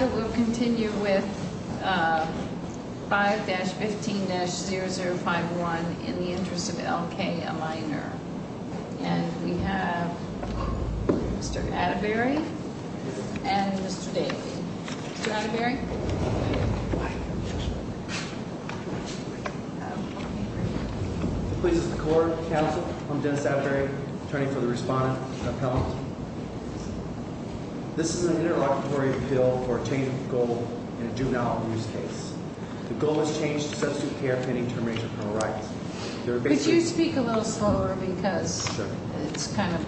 We'll continue with 5-15-0051 in the interest of L.K., a minor. And we have Mr. Atterbury and Mr. Daley. Mr. Atterbury? Hi. This is the court, counsel. I'm Dennis Atterbury, attorney for the respondent, appellant. This is an interlocutory appeal for obtaining a goal in a juvenile abuse case. The goal is changed to substitute care pending termination of criminal rights. Could you speak a little slower because it's kind of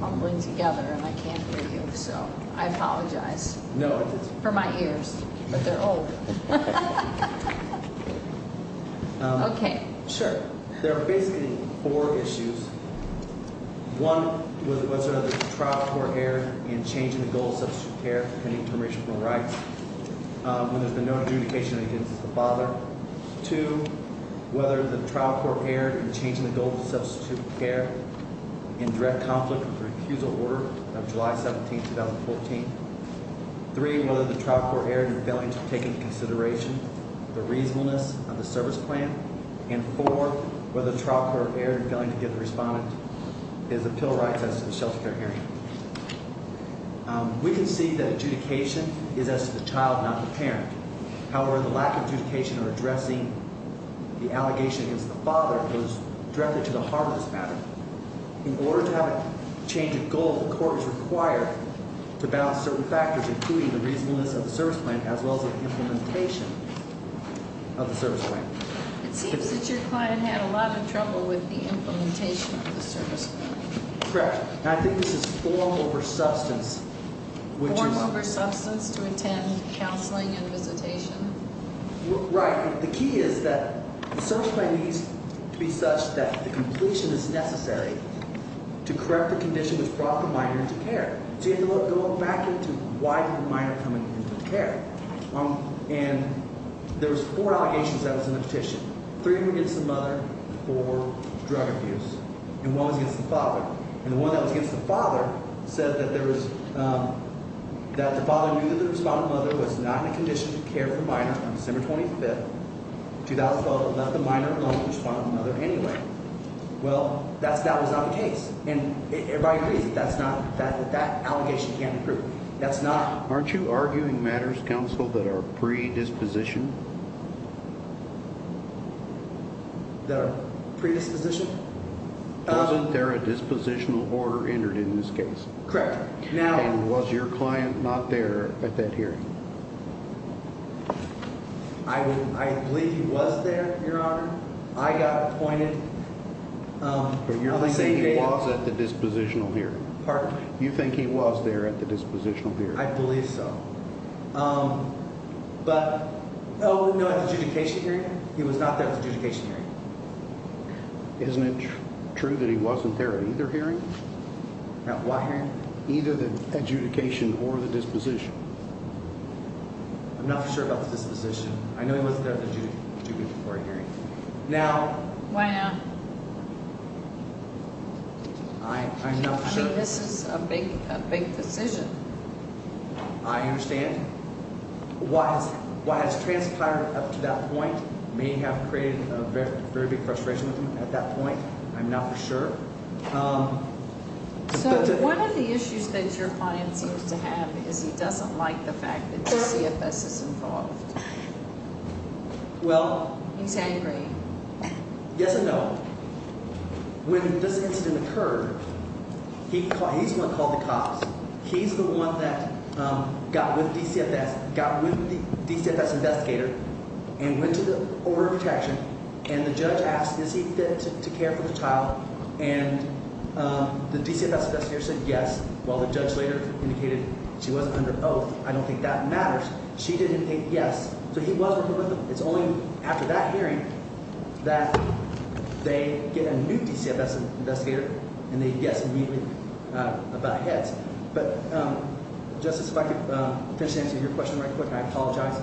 mumbling together and I can't hear you, so I apologize. No, it's okay. For my ears, but they're old. Okay, sure. There are basically four issues. One, whether the trial court erred in changing the goal to substitute care pending termination of criminal rights when there's been no adjudication against the father. Two, whether the trial court erred in changing the goal to substitute care in direct conflict with the refusal order of July 17, 2014. Three, whether the trial court erred in failing to take into consideration the reasonableness of the service plan. And four, whether the trial court erred in failing to give the respondent his appeal rights as to the shelter care area. We can see that adjudication is as to the child, not the parent. However, the lack of adjudication or addressing the allegation against the father goes directly to the heart of this matter. In order to have a change of goal, the court is required to balance certain factors, including the reasonableness of the service plan as well as the implementation of the service plan. It seems that your client had a lot of trouble with the implementation of the service plan. Correct. And I think this is form over substance, which is- Form over substance to attend counseling and visitation. Right. The key is that the service plan needs to be such that the completion is necessary to correct the condition which brought the minor into care. So you have to go back into why did the minor come into care? And there was four allegations that was in the petition. Three were against the mother for drug abuse, and one was against the father. And the one that was against the father said that there was-that the father knew that the respondent mother was not in a condition to care for the minor on December 25th, 2012, and left the minor alone with the respondent mother anyway. Well, that was not the case. And everybody agrees that that's not-that that allegation can't be proved. That's not- Aren't you arguing matters, counsel, that are predisposition? That are predisposition? Wasn't there a dispositional order entered in this case? Correct. And was your client not there at that hearing? I believe he was there, Your Honor. I got appointed. But you're saying he was at the dispositional hearing. Pardon? You think he was there at the dispositional hearing. I believe so. But, oh, no, at the adjudication hearing? He was not there at the adjudication hearing. Isn't it true that he wasn't there at either hearing? At what hearing? Either the adjudication or the disposition. I'm not for sure about the disposition. I know he wasn't there at the adjudication or hearing. Now- Why not? I'm not sure. I mean, this is a big decision. I understand. What has transpired up to that point may have created a very big frustration at that point. I'm not for sure. So one of the issues that your client seems to have is he doesn't like the fact that the CFS is involved. Well- He's angry. Yes and no. When this incident occurred, he's the one who called the cops. He's the one that got with DCFS, got with the DCFS investigator, and went to the order of protection. And the judge asked, is he fit to care for the child? And the DCFS investigator said yes, while the judge later indicated she wasn't under oath. I don't think that matters. She didn't think yes. So he was working with them. It's only after that hearing that they get a new DCFS investigator, and they guess immediately about heads. But, Justice, if I could finish answering your question right quick, I apologize.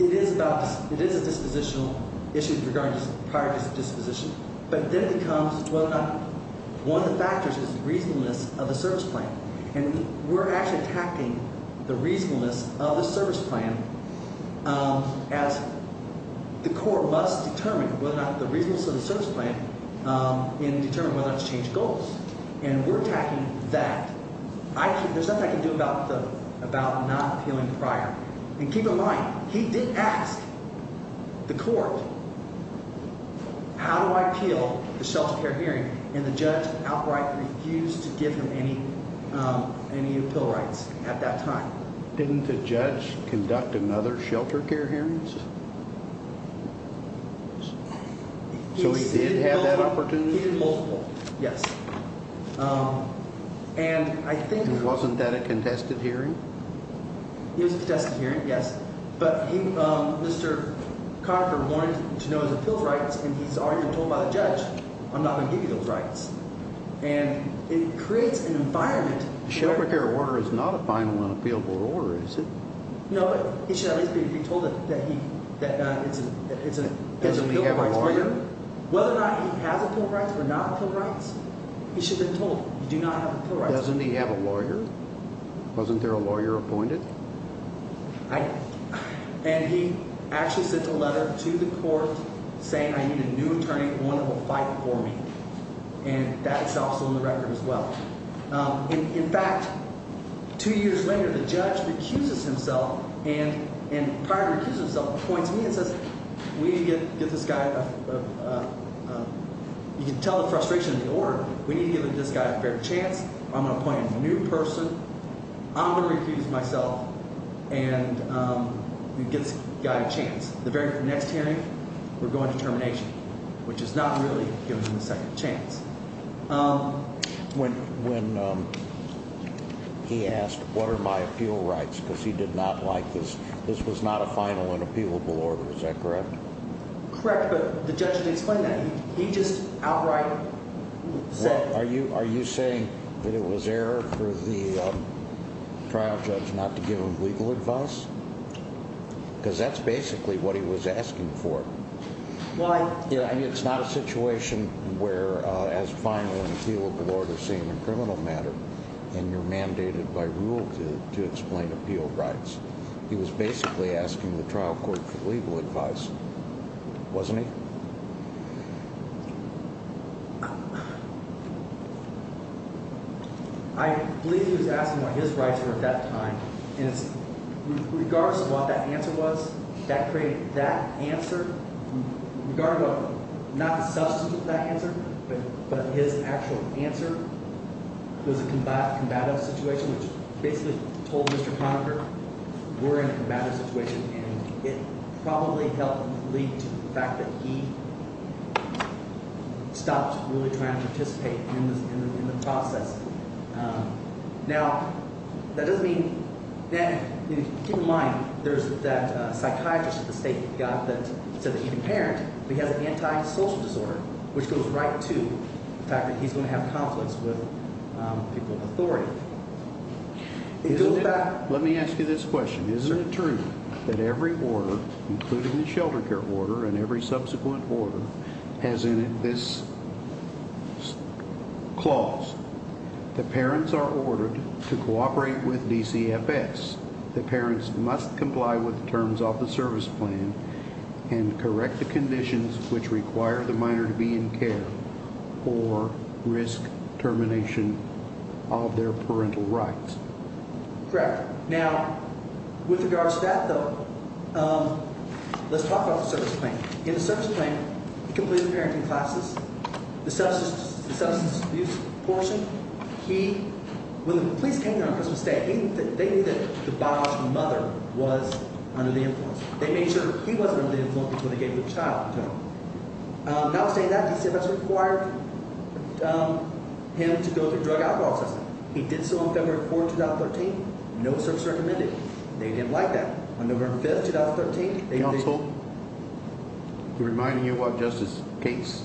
It is a dispositional issue regarding prior disposition. But then it becomes whether or not one of the factors is reasonableness of the service plan. And we're actually attacking the reasonableness of the service plan as the court must determine whether or not the reasonableness of the service plan and determine whether or not to change goals. And we're attacking that. There's nothing I can do about not appealing prior. And keep in mind, he did ask the court, how do I appeal the shelter care hearing? And the judge outright refused to give him any appeal rights at that time. Didn't the judge conduct another shelter care hearing? So he did have that opportunity? He did both. Yes. And I think he was. And wasn't that a contested hearing? It was a contested hearing, yes. But he, Mr. Conifer, wanted to know his appeal rights, and he's already been told by the judge, I'm not going to give you those rights. And it creates an environment. The shelter care order is not a final and appealable order, is it? No, but he should at least be told that he, that it's an appealable rights. Doesn't he have a lawyer? Whether or not he has appeal rights or not appeal rights, he should have been told, you do not have appeal rights. Doesn't he have a lawyer? Wasn't there a lawyer appointed? And he actually sent a letter to the court saying, I need a new attorney, one that will fight for me. And that's also in the record as well. In fact, two years later, the judge recuses himself and prior to recusing himself, appoints me and says, we need to get this guy, you can tell the frustration of the order. We need to give this guy a fair chance. I'm going to appoint a new person. I'm going to recuse myself and get this guy a chance. The very next hearing, we're going to termination, which is not really giving him a second chance. When he asked, what are my appeal rights, because he did not like this, this was not a final and appealable order, is that correct? Correct, but the judge didn't explain that. He just outright said. Are you are you saying that it was error for the trial judge not to give him legal advice? Because that's basically what he was asking for. I mean, it's not a situation where, as final and appealable orders seem a criminal matter and you're mandated by rule to explain appeal rights. He was basically asking the trial court for legal advice. Wasn't he? I believe he was asking what his rights were at that time. And it's regardless of what that answer was that created that answer. Regardless of not the substance of that answer, but his actual answer was a combative situation, which basically told Mr. Conacher we're in a combative situation. And it probably helped lead to the fact that he stopped really trying to participate in the process. Now, that doesn't mean that. Keep in mind, there's that psychiatrist at the state that said that he can parent because of the antisocial disorder, which goes right to the fact that he's going to have conflicts with people of authority. Let me ask you this question. Isn't it true that every order, including the shelter care order and every subsequent order has in it this clause? The parents are ordered to cooperate with DCFS. The parents must comply with the terms of the service plan and correct the conditions which require the minor to be in care or risk termination of their parental rights. Correct. Now, with regards to that, though, let's talk about the service plan. In the service plan, he completed the parenting classes, the substance abuse portion. When the police came down to Christmas Day, they knew that the biological mother was under the influence. They made sure he wasn't under the influence before they gave the child to him. Now, saying that, DCFS required him to go through drug alcohol testing. He did so on February 4th, 2013. No service recommended. They didn't like that. On November 5th, 2013, they did. Reminding you, Justice Gates,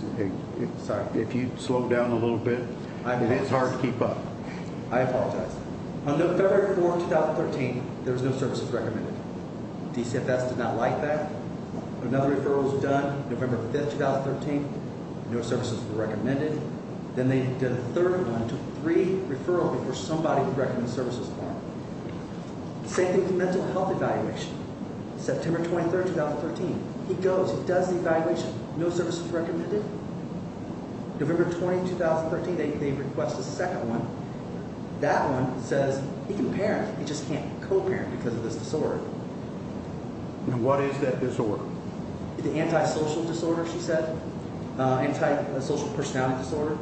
if you slow down a little bit, it is hard to keep up. I apologize. On February 4th, 2013, there was no services recommended. DCFS did not like that. Another referral was done November 5th, 2013. No services were recommended. Then they did a third one, took three referrals before somebody would recommend the services plan. Same thing with the mental health evaluation. September 23rd, 2013, he goes, he does the evaluation. No services recommended. November 20th, 2013, they request a second one. That one says he can parent. He just can't co-parent because of this disorder. And what is that disorder? It's an antisocial disorder, she said. Antisocial personality disorder.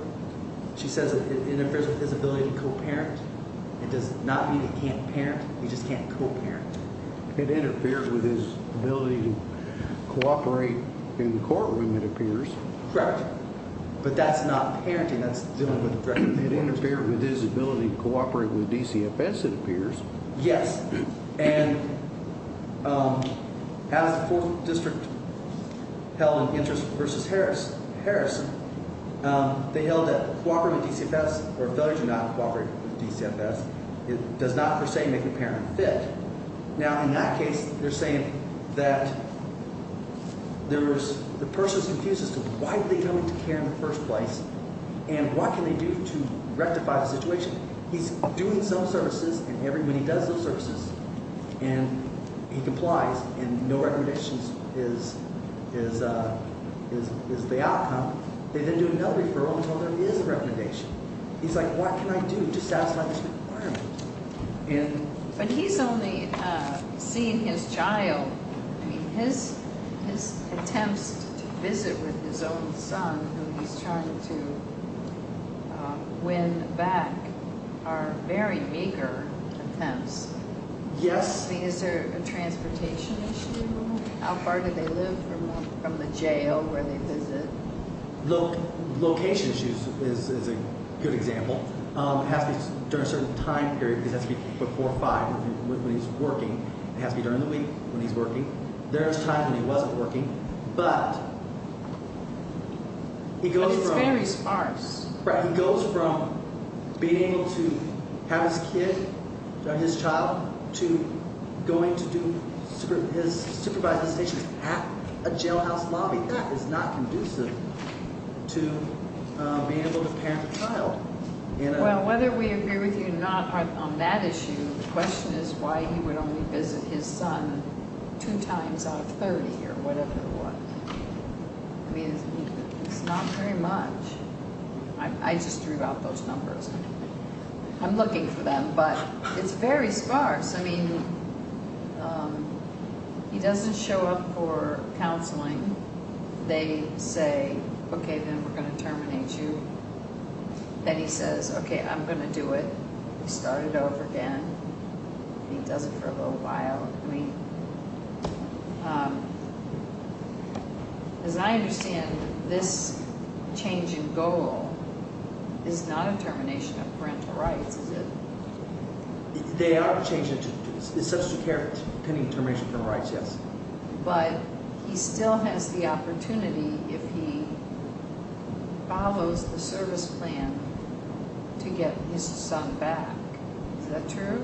She says it interferes with his ability to co-parent. It does not mean he can't parent. He just can't co-parent. It interferes with his ability to co-operate in the courtroom, it appears. Correct. But that's not parenting. That's dealing with the director of the courts. It interferes with his ability to co-operate with DCFS, it appears. Yes. And as the 4th District held an interest versus Harrison, they held that co-operating with DCFS or failure to not co-operate with DCFS does not, per se, make the parent fit. Now, in that case, they're saying that the person is confused as to why are they coming to care in the first place and what can they do to rectify the situation. He's doing some services and when he does those services and he complies and no recommendations is the outcome, they then do another referral until there is a recommendation. He's like, what can I do to satisfy this requirement? But he's only seen his child. I mean, his attempts to visit with his own son, who he's trying to win back, are very meager attempts. Yes. Is there a transportation issue? How far do they live from the jail where they visit? Location issues is a good example. It has to be during a certain time period. It has to be before 5 when he's working. It has to be during the week when he's working. There's times when he wasn't working. But he goes from — But it's very sparse. Right. He goes from being able to have his kid, his child, to going to do his supervising stations at a jailhouse lobby. It's not conducive to being able to parent a child. Well, whether we agree with you or not on that issue, the question is why he would only visit his son two times out of 30 or whatever it was. I mean, it's not very much. I just threw out those numbers. I'm looking for them. But it's very sparse. It's very sparse. I mean, he doesn't show up for counseling. They say, okay, then we're going to terminate you. Then he says, okay, I'm going to do it. We start it over again. He does it for a little while. As I understand, this change in goal is not a termination of parental rights, is it? They are changing it. Substantive care pending termination of parental rights, yes. But he still has the opportunity, if he follows the service plan, to get his son back. Is that true?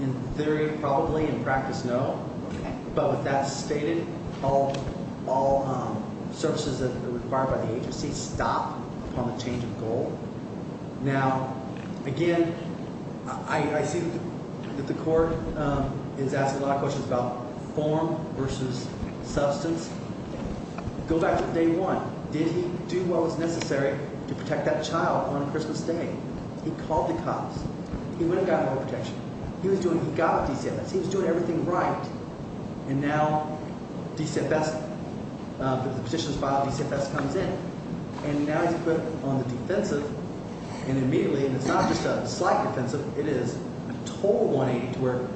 In theory, probably. In practice, no. Okay. But with that stated, all services that are required by the agency stop upon the change of goal. Now, again, I see that the court is asking a lot of questions about form versus substance. Go back to day one. Did he do what was necessary to protect that child on Christmas Day? He called the cops. He would have gotten more protection. He was doing it. He got DCFS. He was doing everything right. And now DCFS, the petition is filed, DCFS comes in, and now he's put on the defensive, and immediately, and it's not just a slight defensive, it is a total 180 to where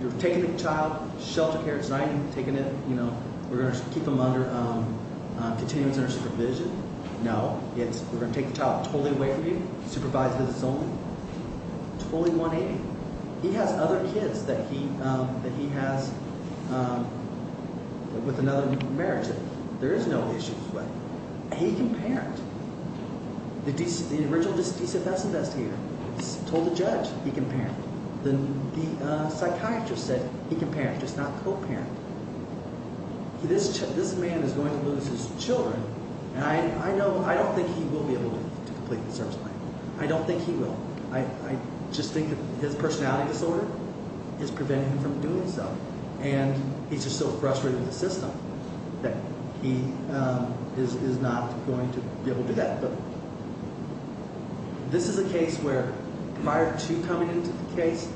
you're taking the child, sheltered her at night and taking it, you know, we're going to keep him under continuous nurse supervision. No. We're going to take the child totally away from you, supervise visits only. Totally 180. He has other kids that he has with another marriage. There is no issue. He can parent. The original DCFS investigator told the judge he can parent. The psychiatrist said he can parent, just not co-parent. This man is going to lose his children, and I don't think he will be able to complete the service plan. I don't think he will. I just think his personality disorder is preventing him from doing so, and he's just so frustrated with the system that he is not going to be able to do that. But this is a case where prior to coming into the case,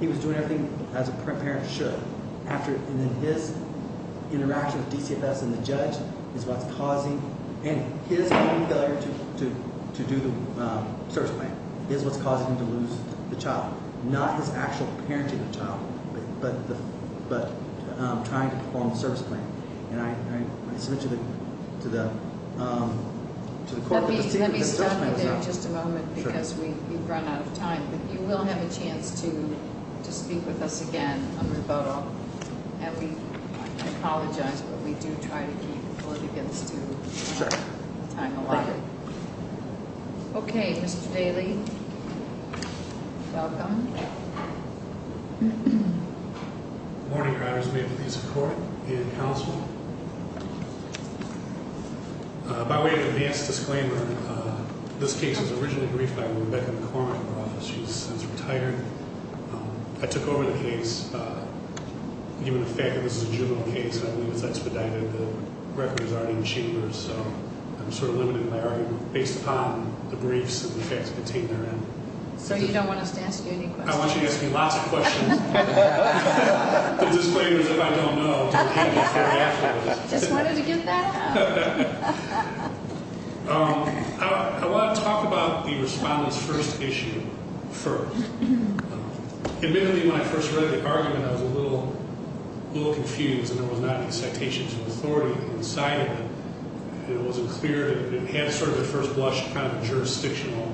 he was doing everything as a parent should, and then his interaction with DCFS and the judge is what's causing, and his failure to do the service plan is what's causing him to lose the child, not his actual parenting child, but trying to perform the service plan. And I submit to the court- Let me stop you there just a moment because we've run out of time, but you will have a chance to speak with us again under the vote. And we apologize, but we do try to keep before it begins to time away. Thank you. Okay, Mr. Daly. Welcome. Good morning, Your Honors. May it please the court and counsel. By way of advance disclaimer, this case was originally briefed by Rebecca McCormick of the office. She's since retired. I took over the case given the fact that this is a juvenile case, The record is already in the chamber, so I'm sort of limiting my argument based upon the briefs and the facts contained therein. So you don't want us to ask you any questions? I want you to ask me lots of questions. The disclaimer is if I don't know, don't get me fired afterwards. Just wanted to get that out. I want to talk about the respondent's first issue first. Admittedly, when I first read the argument, I was a little confused, because there was not any citations of authority inside of it. It wasn't clear. It had sort of a first blush kind of jurisdictional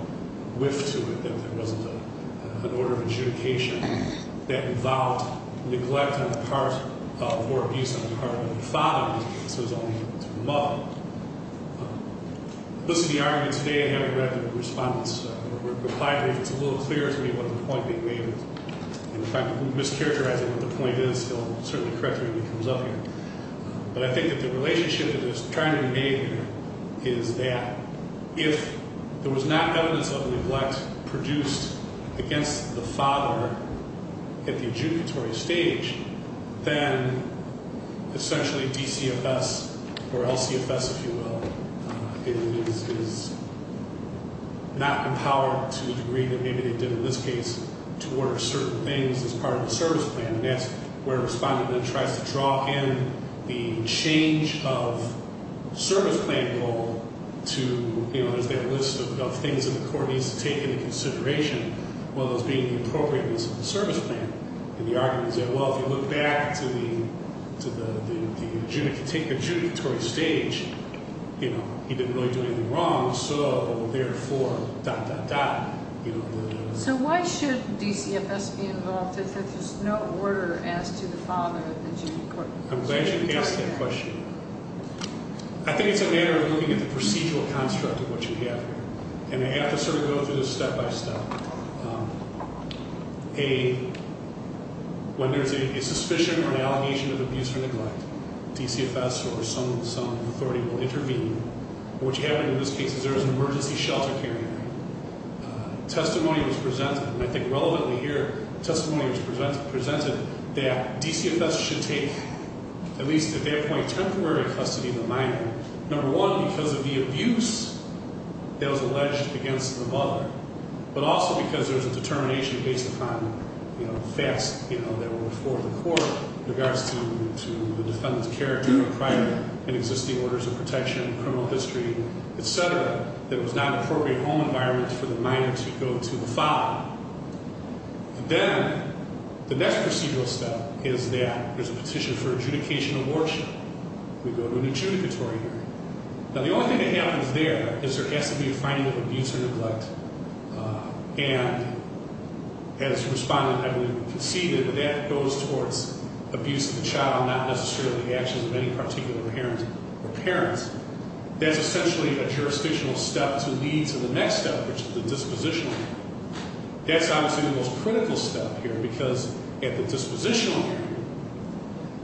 whiff to it, that there wasn't an order of adjudication that involved neglect on the part of or abuse on the part of the father. This was only for his mother. This is the argument today. I haven't read the respondent's reply. I think it's a little clear to me what the point they made is. In fact, if I'm mischaracterizing what the point is, they'll certainly correct me when it comes up here. But I think that the relationship that is trying to be made here is that if there was not evidence of neglect produced against the father at the adjudicatory stage, then essentially DCFS or LCFS, if you will, is not empowered to the degree that maybe they did in this case to order certain things as part of the service plan. And that's where a respondent then tries to draw in the change of service plan goal to, you know, there's that list of things that the court needs to take into consideration, one of those being the appropriateness of the service plan. And the argument is that, well, if you look back to the adjudicatory stage, you know, he didn't really do anything wrong, so therefore, dot, dot, dot, you know. So why should DCFS be involved if there's no order as to the father? I'm glad you asked that question. I think it's a matter of looking at the procedural construct of what you have here. And I have to sort of go through this step by step. A, when there's a suspicion or an allegation of abuse or neglect, DCFS or some authority will intervene. What happened in this case is there was an emergency shelter care unit. Testimony was presented, and I think relevantly here, testimony was presented that DCFS should take, at least at that point, temporary custody of the minor. Number one, because of the abuse that was alleged against the father, but also because there was a determination based upon, you know, facts, you know, criminal history, et cetera, that it was not an appropriate home environment for the minor to go to the father. Then the next procedural step is that there's a petition for adjudication of worship. We go to an adjudicatory hearing. Now, the only thing that happens there is there has to be a finding of abuse or neglect, and as the respondent, I believe, conceded, that that goes towards abuse of the child, not necessarily the actions of any particular parent or parents. That's essentially a jurisdictional step to lead to the next step, which is the dispositional hearing. That's obviously the most critical step here, because at the dispositional hearing,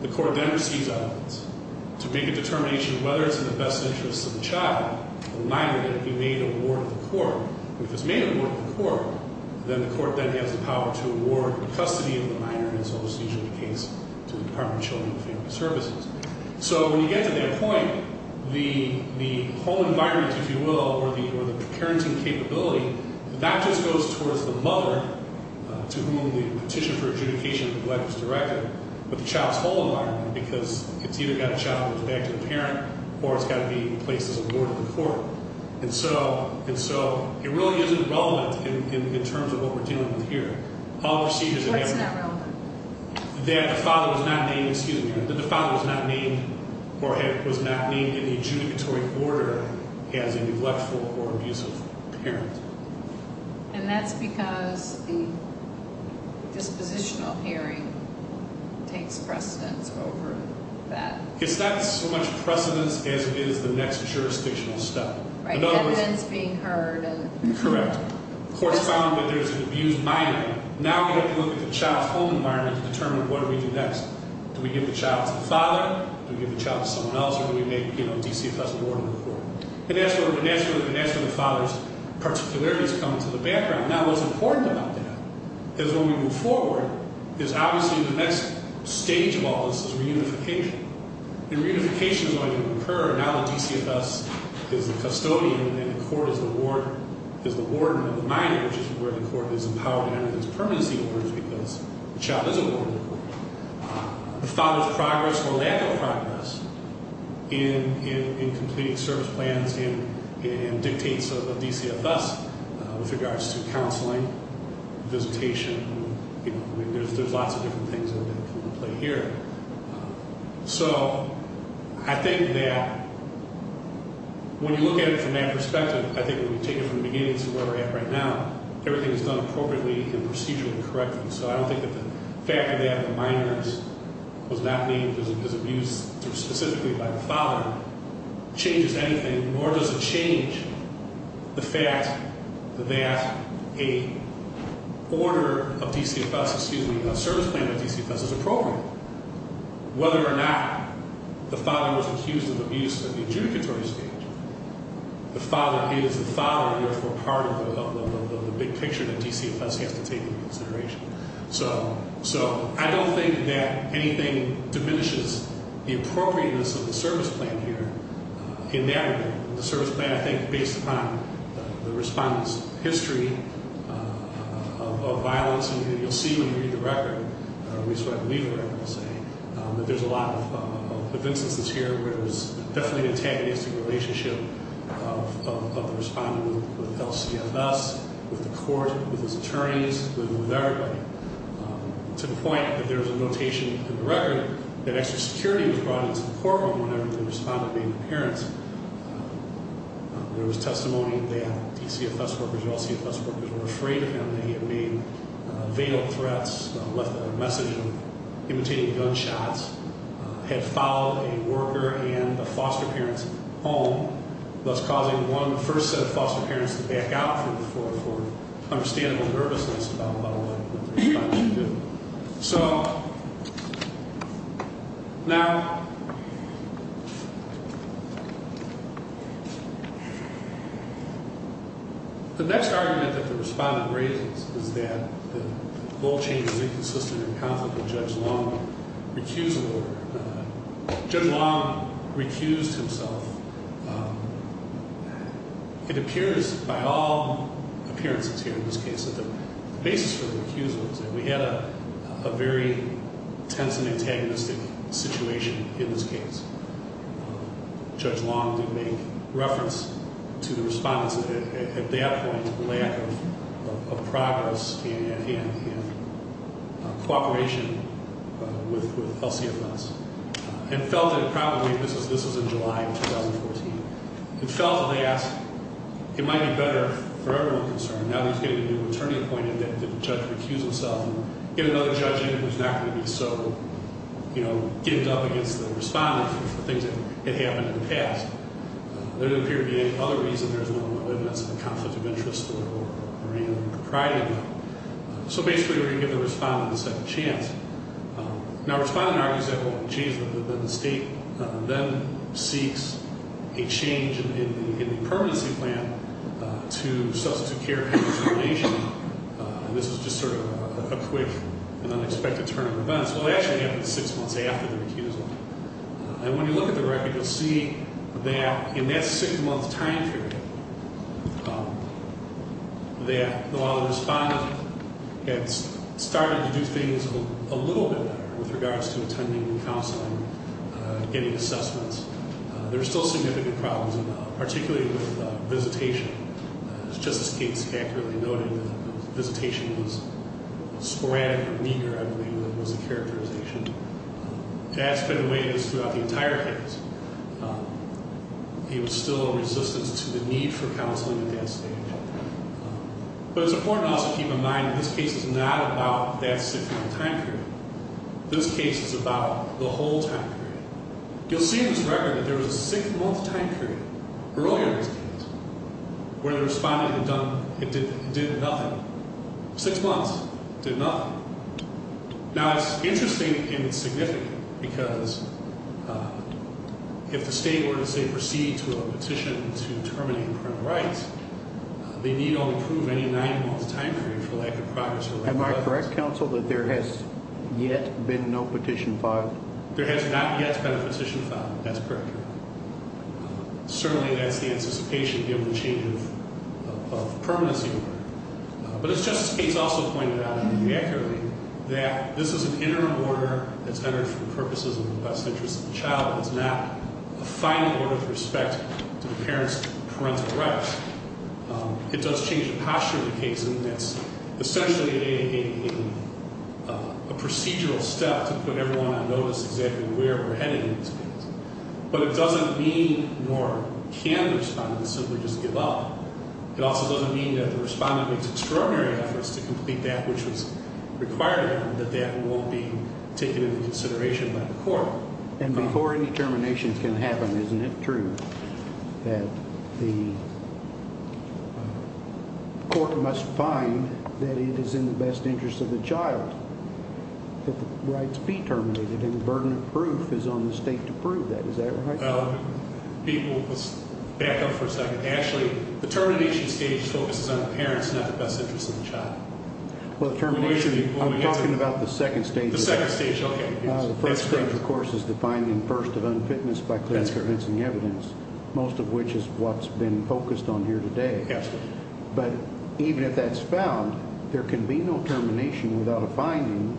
the court then receives evidence to make a determination of whether it's in the best interest of the child, the minor, that it be made award to the court. If it's made award to the court, then the court then has the power to award the custody of the minor, and it's almost usually the case to the Department of Children and Family Services. So when you get to that point, the home environment, if you will, or the parenting capability, that just goes towards the mother to whom the petition for adjudication of neglect was directed, but the child's home environment, because it's either got a child with a defective parent or it's got to be placed as award to the court. And so it really isn't relevant in terms of what we're dealing with here. What's not relevant? That the father was not named in the adjudicatory order as a neglectful or abusive parent. And that's because the dispositional hearing takes precedence over that. It's not so much precedence as it is the next jurisdictional step. Right, evidence being heard. Correct. The court's found that there's an abused minor. Now we have to look at the child's home environment to determine what do we do next. Do we give the child to the father? Do we give the child to someone else, or do we make DCFS an award to the court? And that's where the father's particularities come into the background. Now what's important about that is when we move forward, is obviously the next stage of all this is reunification. And reunification is going to occur now that DCFS is the custodian and the court is the warden of the minor, which is where the court is empowered to enter those permanency orders because the child is a warden of the court. The father's progress or lack of progress in completing service plans and dictates of DCFS with regards to counseling, visitation, there's lots of different things that come into play here. So I think that when you look at it from that perspective, I think when we take it from the beginning to where we're at right now, everything is done appropriately and procedurally and correctly. So I don't think that the fact that they have the minors was not named because of abuse specifically by the father changes anything, nor does it change the fact that a order of DCFS, excuse me, a service plan of DCFS is appropriate. Whether or not the father was accused of abuse at the adjudicatory stage, the father is the father and therefore part of the big picture that DCFS has to take into consideration. So I don't think that anything diminishes the appropriateness of the service plan here. In that regard, the service plan, I think, based upon the respondent's history of violence, and you'll see when you read the record, at least what I believe the record will say, that there's a lot of instances here where there was definitely an antagonistic relationship of the respondent with LCFS, with the court, with his attorneys, with everybody, to the point that there's a notation in the record that extra security was brought into the courtroom whenever the respondent made an appearance. There was testimony that DCFS workers and LCFS workers were afraid of him, that he had made fatal threats, left a message of imitating gunshots, had followed a worker and a foster parent home, thus causing one of the first set of foster parents to back out for understandable nervousness about what the respondent did. So now, the next argument that the respondent raises is that the goal change is inconsistent in conflict with Judge Long's recusal order. Judge Long recused himself. It appears by all appearances here in this case that the basis for the recusal is that we had a very tense and antagonistic situation in this case. Judge Long did make reference to the respondent's, at that point, lack of progress and cooperation with LCFS, and felt that probably, this was in July of 2014, and felt that they asked, it might be better for everyone concerned, now that he's getting a new attorney appointed, that the judge recuse himself and get another judge in who's not going to be so, you know, give it up against the respondent for things that had happened in the past. There didn't appear to be any other reason there's no evidence of a conflict of interest or agreement or propriety about it. So basically, we're going to give the respondent a second chance. Now, the respondent argues that, well, the state then seeks a change in the permanency plan to substitute care and determination, and this is just sort of a quick and unexpected turn of events. Well, it actually happened six months after the recusal. And when you look at the record, you'll see that in that six-month time period, that while the respondent had started to do things a little bit better with regards to attending and counseling and getting assessments, there were still significant problems involved, particularly with visitation. Justice Gates accurately noted that visitation was sporadic or meager, I believe, was the characterization. That's been the way it is throughout the entire case. There was still a resistance to the need for counseling at that stage. But it's important also to keep in mind that this case is not about that six-month time period. This case is about the whole time period. You'll see in this record that there was a six-month time period earlier in this case where the respondent had done nothing. Six months, did nothing. Now, it's interesting and significant because if the state were to, say, proceed to a petition to terminate parental rights, they need only prove any nine-month time period for lack of progress. Am I correct, counsel, that there has yet been no petition filed? There has not yet been a petition filed. That's correct. Certainly, that's the anticipation given the change of permanency order. But as Justice Gates also pointed out very accurately, that this is an interim order that's entered for the purposes of the best interest of the child. It's not a final order with respect to the parent's parental rights. It does change the posture of the case. And that's essentially a procedural step to put everyone on notice exactly where we're heading in this case. But it doesn't mean nor can the respondent simply just give up. It also doesn't mean that the respondent makes extraordinary efforts to complete that which was required of them, that that won't be taken into consideration by the court. And before any termination can happen, isn't it true that the court must find that it is in the best interest of the child that the rights be terminated, and the burden of proof is on the state to prove that? Is that right? People, let's back up for a second. Actually, the termination stage focuses on the parents, not the best interest of the child. Well, the termination, I'm talking about the second stage. The second stage, okay. The first stage, of course, is the finding first of unfitness by clinical evidence, most of which is what's been focused on here today. But even if that's found, there can be no termination without a finding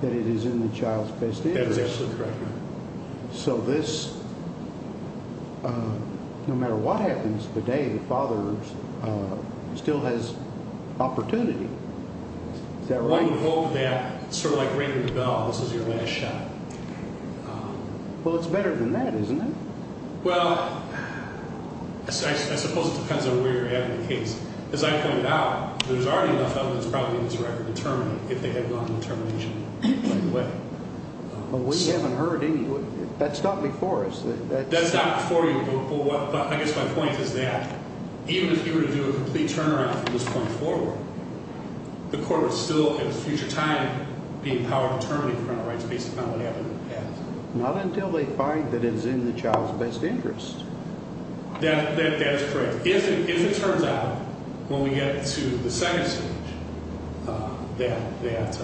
that it is in the child's best interest. That's absolutely correct. So this, no matter what happens today, the father still has opportunity. Is that right? I would hope that, sort of like ringing the bell, this is your last shot. Well, it's better than that, isn't it? Well, I suppose it depends on where you're at in the case. As I pointed out, there's already enough evidence probably to determine if they have gone into termination right away. But we haven't heard any. That's not before us. That's not before you. I guess my point is that even if you were to do a complete turnaround from this point forward, the court would still at a future time be empowered to terminate parental rights based upon what happened in the past. Not until they find that it is in the child's best interest. That is correct. But if it turns out, when we get to the second stage, that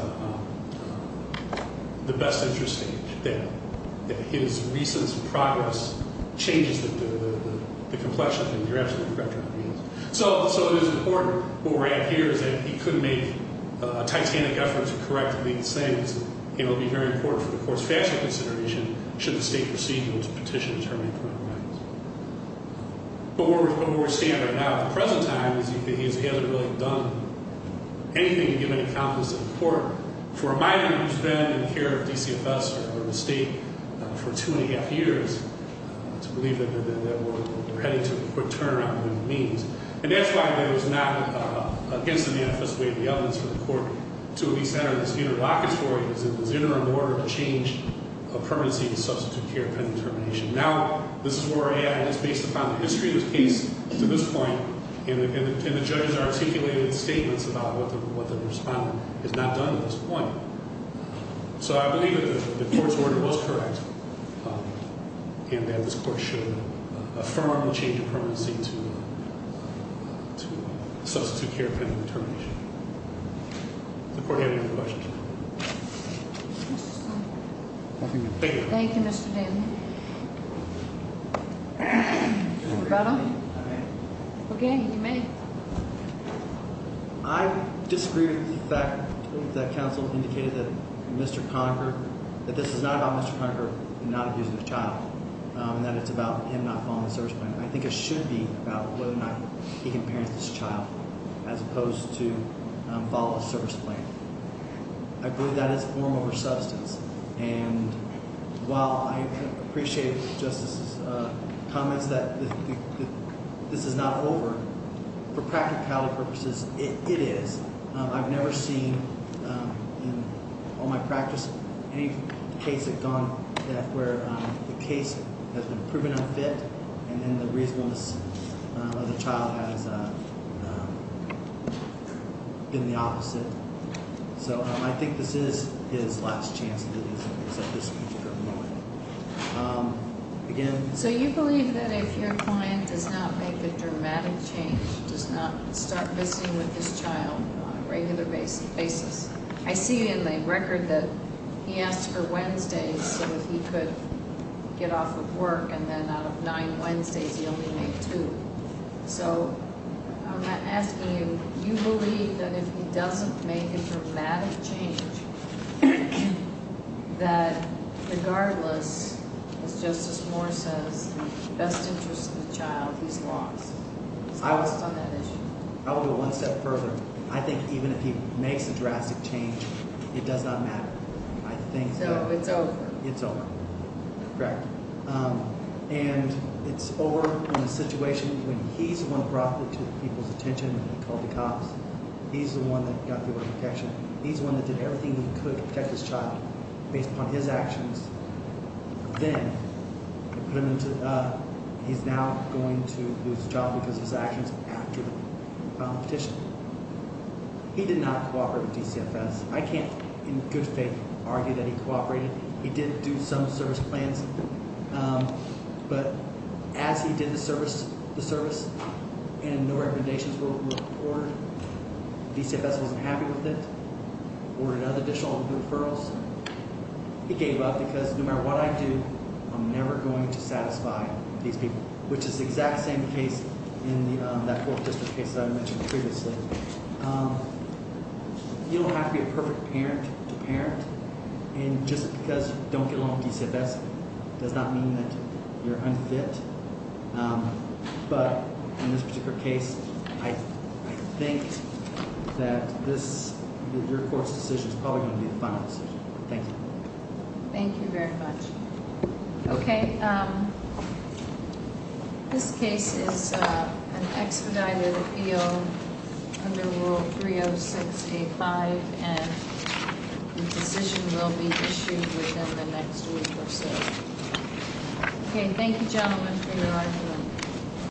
the best interest stage, that his recent progress changes the complexion, then you're absolutely correct. So it is important. What we're at here is that he could make a titanic effort to correct these things. It will be very important for the court's factual consideration should the state proceed to petition to terminate parental rights. But what we're seeing right now at the present time is that he hasn't really done anything to give any confidence to the court. For a minor who's been in the care of DCFS or the state for two and a half years, to believe that we're heading to a quick turnaround would be means. And that's why there's not, against the manifest way of the evidence for the court, to at least enter this interlocutory, this interim order to change a permanency to substitute care pending termination. Now, this is where AI is based upon the history of the case to this point, and the judges articulated statements about what the respondent has not done to this point. So I believe that the court's order was correct, and that this court should affirm the change of permanency to substitute care pending termination. Does the court have any questions? Nothing to figure. Thank you, Mr. Daly. Roberto? If I may? Okay, you may. I disagree with the fact that counsel indicated that Mr. Conacher, that this is not about Mr. Conacher not abusing his child, and that it's about him not following the service plan. I think it should be about whether or not he can parent this child as opposed to follow a service plan. I believe that is form over substance. And while I appreciate the Justice's comments that this is not over, for practicality purposes, it is. I've never seen in all my practice any case that has gone where the case has been proven unfit, and then the reasonableness of the child has been the opposite. So I think this is his last chance to do this at this particular moment. Again- So you believe that if your client does not make a dramatic change, does not start visiting with his child on a regular basis- I see in the record that he asked for Wednesdays so that he could get off of work, and then out of nine Wednesdays, he only made two. So I'm asking you, do you believe that if he doesn't make a dramatic change, that regardless, as Justice Moore says, the best interest of the child is lost on that issue? I will go one step further. I think even if he makes a drastic change, it does not matter. So it's over. It's over. Correct. And it's over when the situation- when he's the one who brought people's attention and called the cops. He's the one that got the order of protection. He's the one that did everything he could to protect his child based upon his actions. Then, he's now going to lose his job because of his actions after the petition. He did not cooperate with DCFS. I can't, in good faith, argue that he cooperated. He did do some service plans, but as he did the service, the service, and no recommendations were ordered, DCFS wasn't happy with it, ordered another additional number of referrals. He gave up because no matter what I do, I'm never going to satisfy these people, which is the exact same case in that 4th District case that I mentioned previously. You don't have to be a perfect parent to parent. And just because you don't get along with DCFS does not mean that you're unfit. But in this particular case, I think that this- your court's decision is probably going to be the final decision. Thank you. Thank you very much. Okay, this case is an expedited appeal under Rule 306A5, and the decision will be issued within the next week or so. Okay, thank you, gentlemen, for your argument.